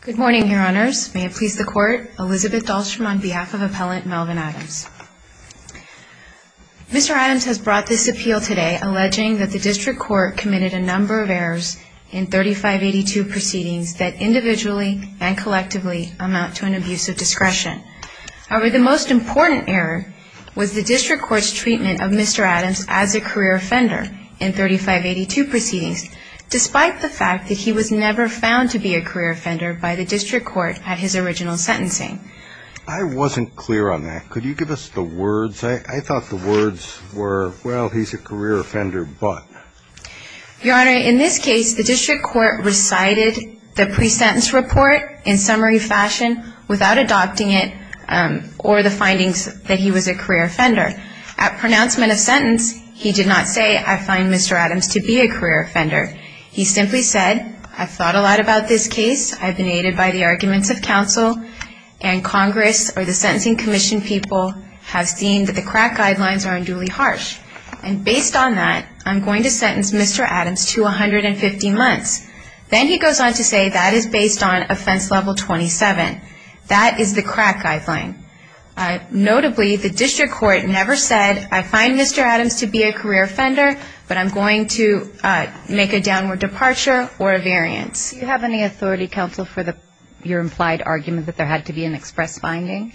Good morning your honors. May it please the court, Elizabeth Dahlstrom on behalf of appellant Melvin Adams. Mr. Adams has brought this appeal today alleging that the district court committed a number of errors in 3582 proceedings that individually and collectively amount to an abuse of discretion. However, the most important error was the district court's treatment of Mr. Adams as a career offender in 3582 proceedings, despite the fact that he was never found to be a career offender by the district court at his original sentencing. I wasn't clear on that. Could you give us the words? I thought the words were, well he's a career offender but. Your honor, in this case the district court recited the pre-sentence report in summary fashion without adopting it or the findings that he was a career offender. At pronouncement of sentence he did not say I find Mr. Adams to be a career offender. He simply said I've thought a lot about this case. I've been aided by the arguments of counsel and Congress or the Sentencing Commission people have seen that the crack guidelines are unduly harsh and based on that I'm going to sentence Mr. Adams to a hundred and fifty months. Then he goes on to say that is based on offense level 27. That is the crack guideline. Notably, the district court never said I find Mr. Adams to be a career offender but I'm going to make a downward departure or a variance. Do you have any authority counsel for the your implied argument that there had to be an express finding?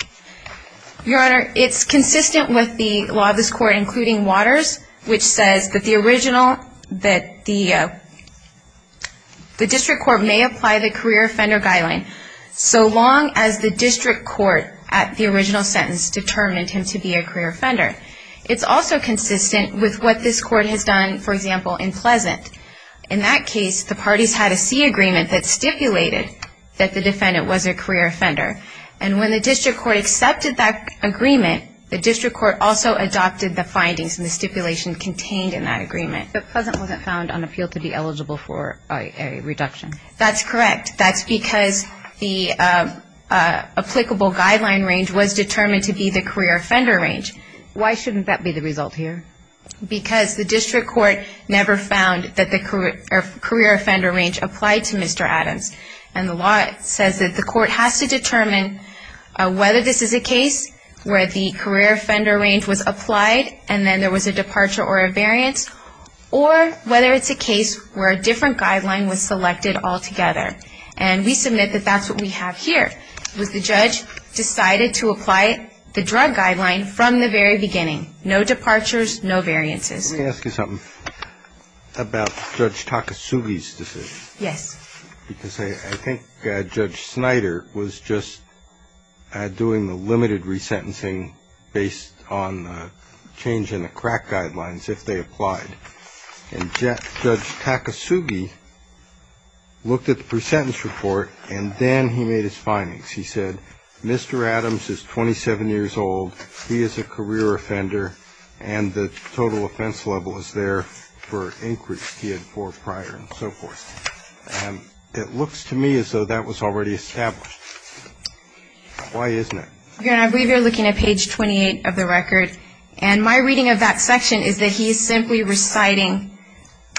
Your honor, it's consistent with the law of this court including Waters which says that the original that the the district court may apply the career offender guideline so long as the district court at the original sentence determined him to be a career offender. It's also consistent with what this court has done for example in Pleasant. In that case the C agreement that stipulated that the defendant was a career offender and when the district court accepted that agreement the district court also adopted the findings and the stipulation contained in that agreement. But Pleasant wasn't found on appeal to be eligible for a reduction. That's correct. That's because the applicable guideline range was determined to be the career offender range. Why shouldn't that be the result here? Because the district court never found that the career offender range applied to Mr. Adams and the law says that the court has to determine whether this is a case where the career offender range was applied and then there was a departure or a variance or whether it's a case where a different guideline was selected altogether and we submit that that's what we have here. The judge decided to apply the drug guideline from the very beginning. No departures, no variances. Let me ask you something about Judge Takasugi's decision. Yes. Because I think Judge Snyder was just doing the limited resentencing based on the change in the crack guidelines if they applied and Judge Takasugi looked at the presentence report and then he made his decision. He said, well, Judge Snyder is 20 years old. He is a career offender and the total offense level is there for inquiries he had for prior and so forth. It looks to me as though that was already established. Why isn't it? I believe you're looking at page 28 of the record and my reading of that section is that he is simply reciting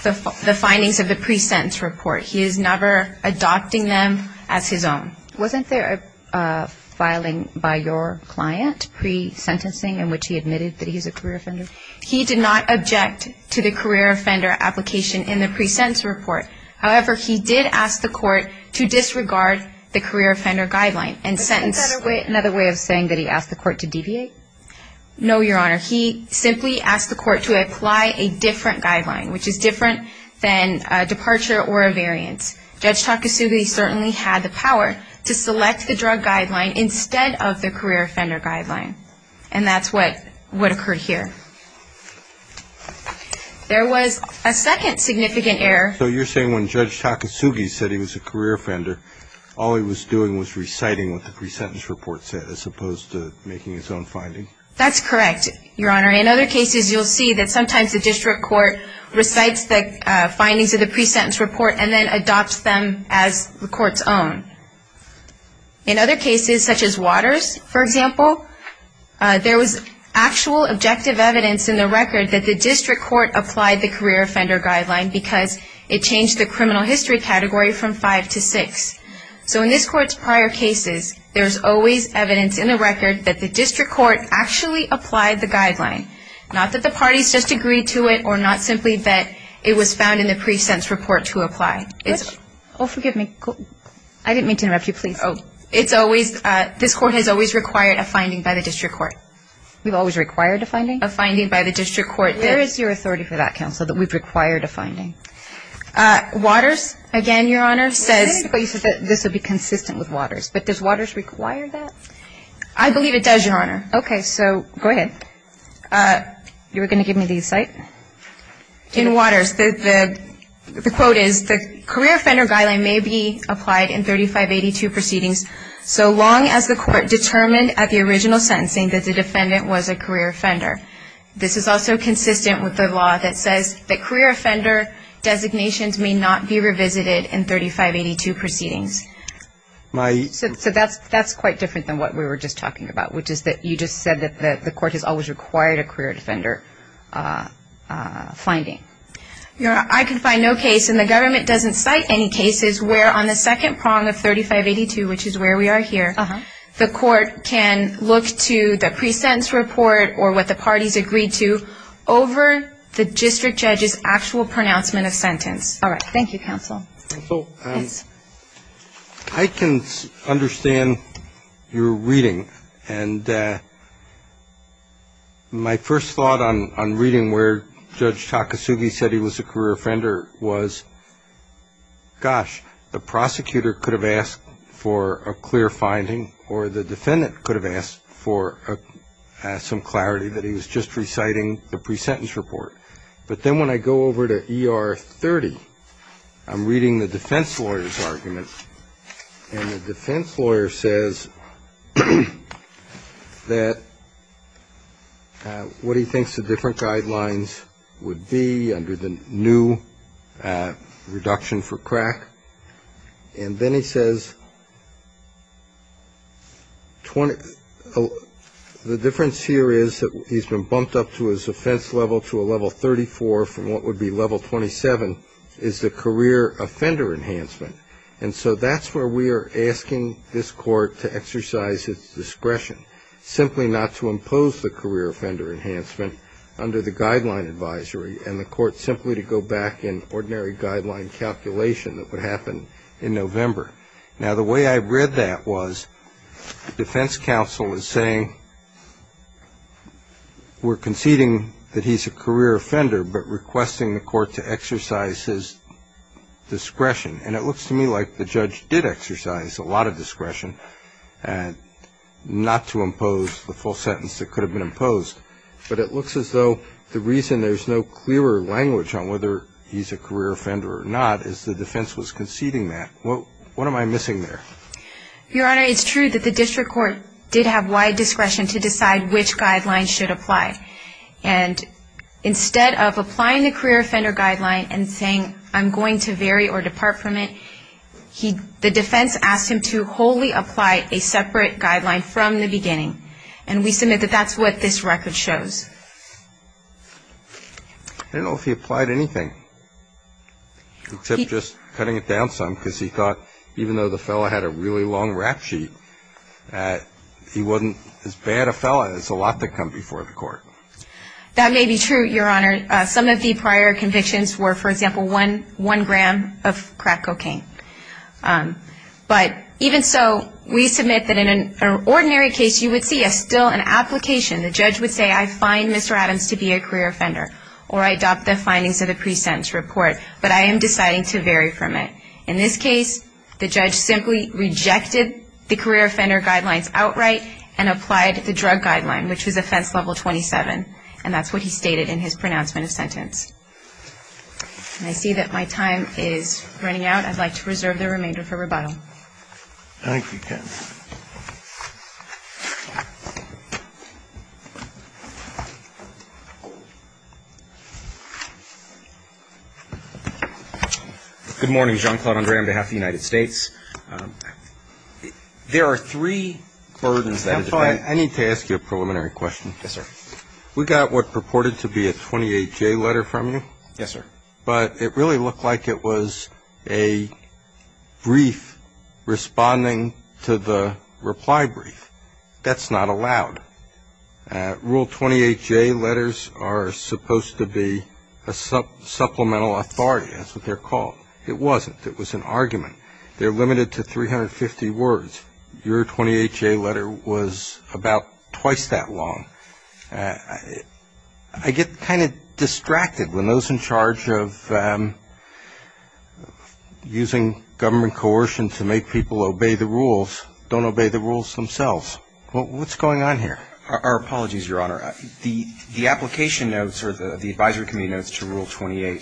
the findings of the presentence report. He is never adopting them as his own. Wasn't there a filing by your client pre-sentencing in which he admitted that he's a career offender? He did not object to the career offender application in the presentence report. However, he did ask the court to disregard the career offender guideline and sentence. Is that another way of saying that he asked the court to deviate? No, Your Honor. He simply asked the court to apply a pre-sentence report. In this case, Judge Takasugi certainly had the power to select the drug guideline instead of the career offender guideline and that's what occurred here. There was a second significant error. So you're saying when Judge Takasugi said he was a career offender, all he was doing was reciting what the pre-sentence report said as opposed to making his own finding? That's correct, Your Honor. In other cases, you'll see that sometimes the district court recites the findings of the pre-sentence report and then has the court's own. In other cases, such as Waters, for example, there was actual objective evidence in the record that the district court applied the career offender guideline because it changed the criminal history category from 5 to 6. So in this court's prior cases, there's always evidence in the record that the district court actually applied the guideline. Not that the parties just agreed to it or not simply that it was found in the pre-sentence report to apply. Oh, forgive me. I didn't mean to interrupt you. Please. It's always, this court has always required a finding by the district court. We've always required a finding? A finding by the district court. Where is your authority for that, Counselor, that we've required a finding? Waters, again, Your Honor, says You said that this would be consistent with Waters, but does Waters require that? I believe it does, Your Honor. Okay, so go ahead. You were going to give me the insight? In Waters, the quote is, The career offender guideline may be applied in 3582 proceedings so long as the court determined at the original sentencing that the defendant was a career offender. This is also consistent with the law that says that career offender designations may not be revisited in 3582 proceedings. So that's quite different than what we were just talking about, which is that you just said that the court has always required a career offender finding. Your Honor, I can find no case, and the government doesn't cite any cases, where on the second prong of 3582, which is where we are here, the court can look to the pre-sentence report or what the parties agreed to over the district judge's actual pronouncement of sentence. All right. Thank you, Counsel. I can understand your reading, and my first thought on reading where Judge Takasugi said he was a career offender was, gosh, the prosecutor could have asked for a clear finding or the defendant could have asked for some clarity that he was just reciting the pre-sentence report. But then when I go over to ER 30, I'm reading the defense lawyer's argument, and the defense lawyer says that what he thinks the different guidelines would be under the new reduction for crack. And then he says the difference here is that he's been bumped up to his offense level to a level 34 from what would be level 27 is the career offender enhancement. And so that's where we are asking this court to exercise its discretion, simply not to impose the career offender enhancement under the guideline advisory and the court simply to go back in ordinary guideline calculation that would happen in November. Now, the way I read that was the defense counsel is saying we're conceding that he's a career offender but requesting the court to exercise his discretion. And it looks to me like the judge did exercise a lot of discretion not to impose the full sentence that could have been imposed, but it looks as though the reason there's no clearer language on whether he's a career offender or not is the defense was conceding that. What am I missing there? Your Honor, it's true that the district court did have wide discretion to decide which guidelines should apply. And instead of applying the career offender guideline and saying I'm going to vary or depart from it, the defense asked him to wholly apply a separate guideline from the beginning. And we submit that that's what this record shows. I don't know if he applied anything, except just cutting it down some, because he thought even though the fellow had a really long rap sheet, he wasn't as bad a fellow as a lot that come before the court. That may be true, Your Honor. Some of the prior convictions were, for example, one gram of crack cocaine. But even so, we submit that in an ordinary case you would see still an application. The judge would say I find Mr. Adams to be a career offender, or I adopt the findings of the pre-sentence report, but I am deciding to vary from it. In this case, the judge simply rejected the career offender guidelines outright and applied the drug guideline, which was offense level 27. And that's what he stated in his pronouncement of sentence. And I see that my time is running out. I'd like to reserve the remainder for rebuttal. Thank you, Ken. Good morning. Jean-Claude Andre, on behalf of the United States. There are three burdens. I need to ask you a preliminary question. Yes, sir. We got what purported to be a 28-J letter from you. Yes, sir. But it really looked like it was a brief responding to the reply brief. That's not allowed. Rule 28-J letters are supposed to be a supplemental authority. That's what they're called. It wasn't. It was an argument. They're limited to 350 words. Your 28-J letter was about twice that long. I get kind of distracted when those in charge of using government coercion to make people obey the rules don't obey the rules themselves. What's going on here? Our apologies, Your Honor. The application notes or the advisory committee notes to Rule 28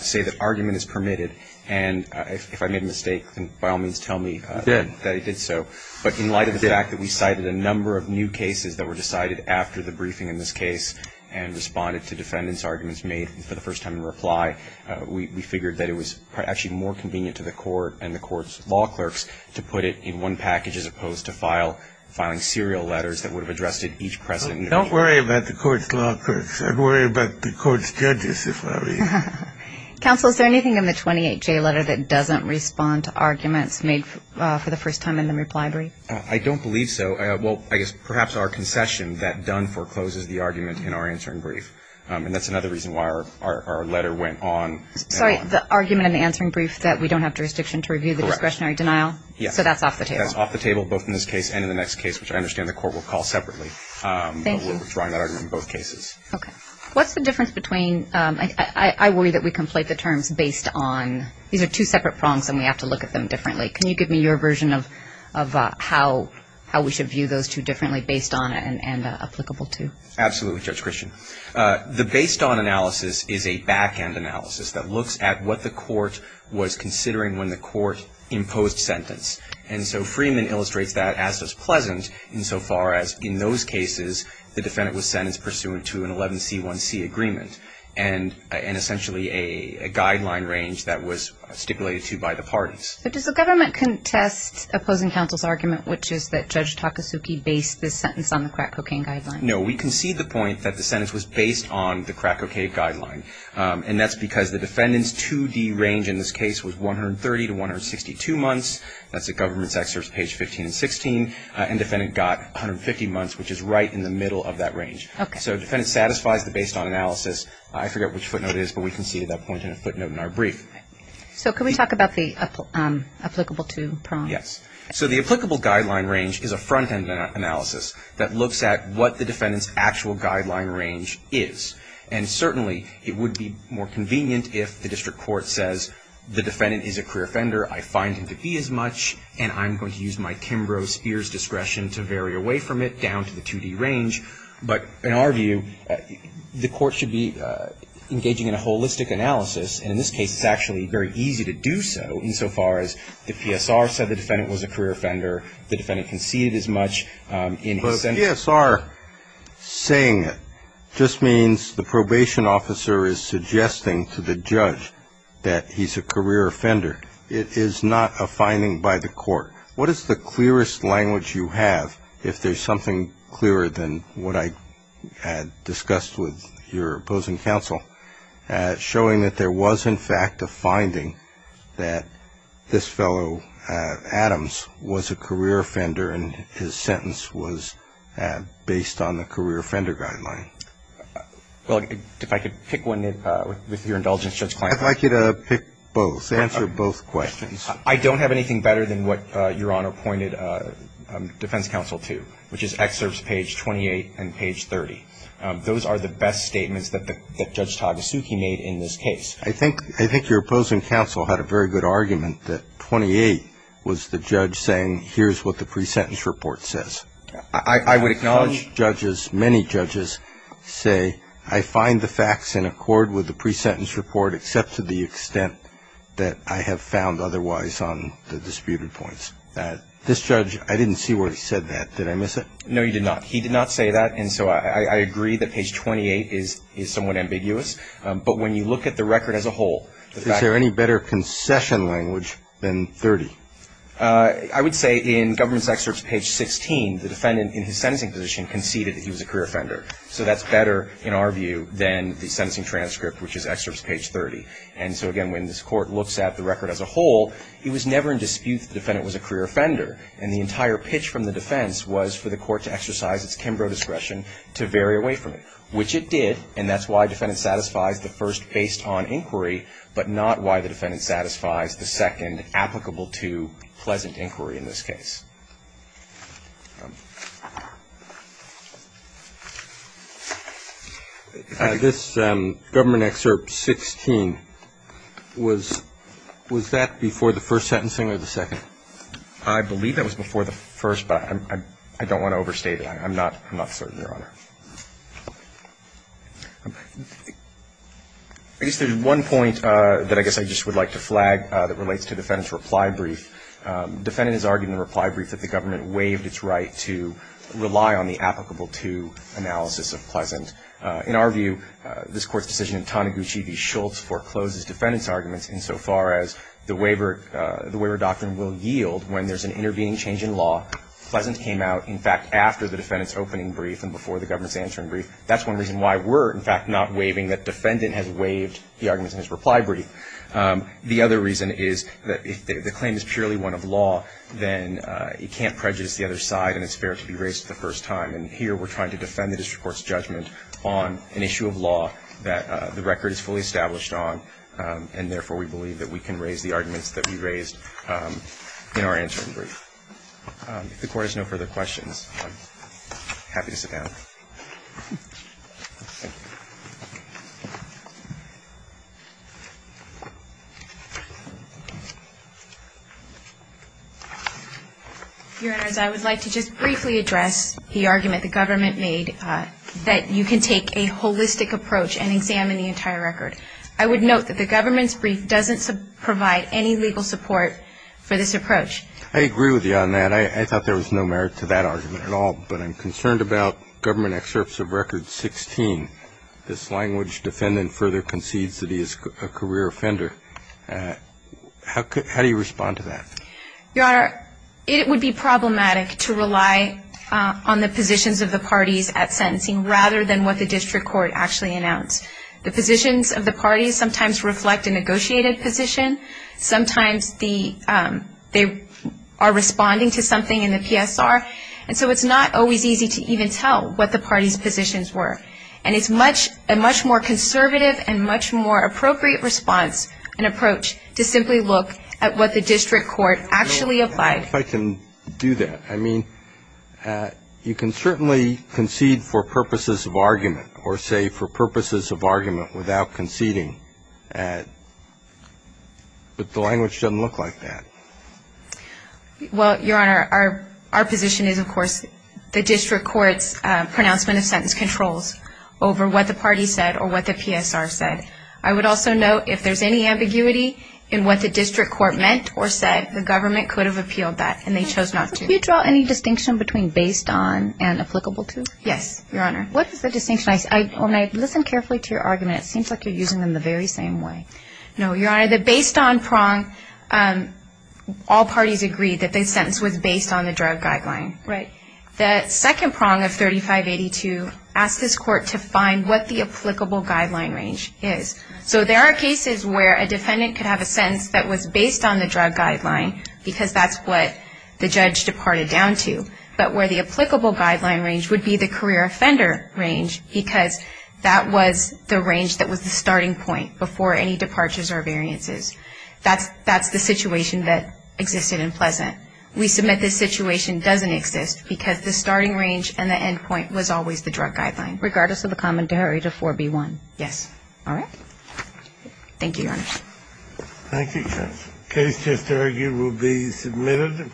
say that argument is permitted. And if I made a mistake, then by all means tell me that I did so. But in light of the fact that we cited a number of new cases that were decided after the briefing in this case and responded to defendants' arguments made for the first time in reply, we figured that it was actually more convenient to the court and the court's law clerks to put it in one package as opposed to filing serial letters that would have addressed it each precedent. Don't worry about the court's law clerks. Worry about the court's judges, if I may. I don't believe so. Well, I guess perhaps our concession that done forecloses the argument in our answering brief. And that's another reason why our letter went on. Sorry, the argument in the answering brief that we don't have jurisdiction to review the discretionary denial? Correct. Yes. So that's off the table. That's off the table, both in this case and in the next case, which I understand the court will call separately. Thank you. But we'll withdraw that argument in both cases. Okay. What's the difference between – I worry that we complete the terms based on – these are two separate prongs and we have to look at them differently. Can you give me your version of how we should view those two differently, based on and applicable to? Absolutely, Judge Christian. The based-on analysis is a back-end analysis that looks at what the court was considering when the court imposed sentence. And so Freeman illustrates that as was pleasant insofar as, in those cases, the defendant was sentenced pursuant to an 11C1C agreement and essentially a guideline range that was stipulated to by the parties. But does the government contest opposing counsel's argument, which is that Judge Takasugi based this sentence on the crack cocaine guideline? No. We concede the point that the sentence was based on the crack cocaine guideline. And that's because the defendant's 2D range in this case was 130 to 162 months. That's the government's excerpts, page 15 and 16. And the defendant got 150 months, which is right in the middle of that range. Okay. And so the defendant satisfies the based-on analysis. I forget which footnote it is, but we concede that point in a footnote in our brief. So can we talk about the applicable to prong? Yes. So the applicable guideline range is a front-end analysis that looks at what the defendant's actual guideline range is. And certainly it would be more convenient if the district court says, the defendant is a career offender, I find him to be as much, and I'm going to use my Kimbrough-Spears discretion to vary away from it down to the 2D range. But in our view, the court should be engaging in a holistic analysis. And in this case, it's actually very easy to do so, insofar as the PSR said the defendant was a career offender. The defendant conceded as much in his sentence. But PSR saying it just means the probation officer is suggesting to the judge that he's a career offender. It is not a finding by the court. What is the clearest language you have, if there's something clearer than what I had discussed with your opposing counsel, showing that there was, in fact, a finding that this fellow Adams was a career offender and his sentence was based on the career offender guideline? Well, if I could pick one, with your indulgence, Judge Klein. I'd like you to pick both. Answer both questions. I don't have anything better than what Your Honor pointed defense counsel to, which is excerpts page 28 and page 30. Those are the best statements that Judge Tagasugi made in this case. I think your opposing counsel had a very good argument that 28 was the judge saying, here's what the pre-sentence report says. I would acknowledge judges, many judges, say I find the facts in accord with the pre-sentence report, except to the extent that I have found otherwise on the disputed points. This judge, I didn't see where he said that. Did I miss it? No, you did not. He did not say that, and so I agree that page 28 is somewhat ambiguous. But when you look at the record as a whole. Is there any better concession language than 30? I would say in government's excerpts page 16, the defendant in his sentencing position conceded that he was a career offender. So that's better in our view than the sentencing transcript, which is excerpts page 30. And so, again, when this court looks at the record as a whole, he was never in dispute that the defendant was a career offender. And the entire pitch from the defense was for the court to exercise its Kimbrough discretion to vary away from it, which it did. And that's why defendant satisfies the first based on inquiry, but not why the defendant satisfies the second applicable to pleasant inquiry in this case. This government excerpt 16, was that before the first sentencing or the second? I believe that was before the first, but I don't want to overstate it. I'm not certain, Your Honor. I guess there's one point that I guess I just would like to flag that relates to defendant's reply brief. That the government waived its right to rely on the applicable to analysis of pleasant. In our view, this Court's decision in Taniguchi v. Schultz forecloses defendant's arguments insofar as the waiver doctrine will yield when there's an intervening change in law. Pleasant came out, in fact, after the defendant's opening brief and before the government's answering brief. That's one reason why we're, in fact, not waiving, that defendant has waived the arguments in his reply brief. The other reason is that if the claim is purely one of law, then you can't prejudice the other side and it's fair to be raised for the first time. And here we're trying to defend the district court's judgment on an issue of law that the record is fully established on. And therefore, we believe that we can raise the arguments that we raised in our answering brief. If the Court has no further questions, I'm happy to sit down. Your Honors, I would like to just briefly address the argument the government made that you can take a holistic approach and examine the entire record. I would note that the government's brief doesn't provide any legal support for this approach. I agree with you on that. I thought there was no merit to that argument at all, but I'm concerned about going of record 16, this language defendant further concedes that he is a career offender. How do you respond to that? Your Honor, it would be problematic to rely on the positions of the parties at sentencing rather than what the district court actually announced. The positions of the parties sometimes reflect a negotiated position. Sometimes they are responding to something in the PSR. And so it's not always easy to even tell what the parties' positions were. And it's a much more conservative and much more appropriate response and approach to simply look at what the district court actually applied. If I can do that, I mean, you can certainly concede for purposes of argument or say for purposes of argument without conceding, but the language doesn't look like that. Well, Your Honor, our position is, of course, the district court's pronouncement of sentence controls over what the parties said or what the PSR said. I would also note if there's any ambiguity in what the district court meant or said, the government could have appealed that, and they chose not to. Could you draw any distinction between based on and applicable to? Yes, Your Honor. What is the distinction? I listened carefully to your argument. It seems like you're using them the very same way. No, Your Honor. The based on prong, all parties agreed that the sentence was based on the drug guideline. Right. The second prong of 3582 asked this court to find what the applicable guideline range is. So there are cases where a defendant could have a sentence that was based on the drug guideline because that's what the judge departed down to, but where the applicable guideline range would be the career offender range because that was the range that was the starting point before any departures or variances. That's the situation that existed in Pleasant. We submit this situation doesn't exist because the starting range and the end point was always the drug guideline. Regardless of the commentary to 4b-1. Yes. All right? Thank you, Your Honor. Thank you, counsel. The case just argued will be submitted.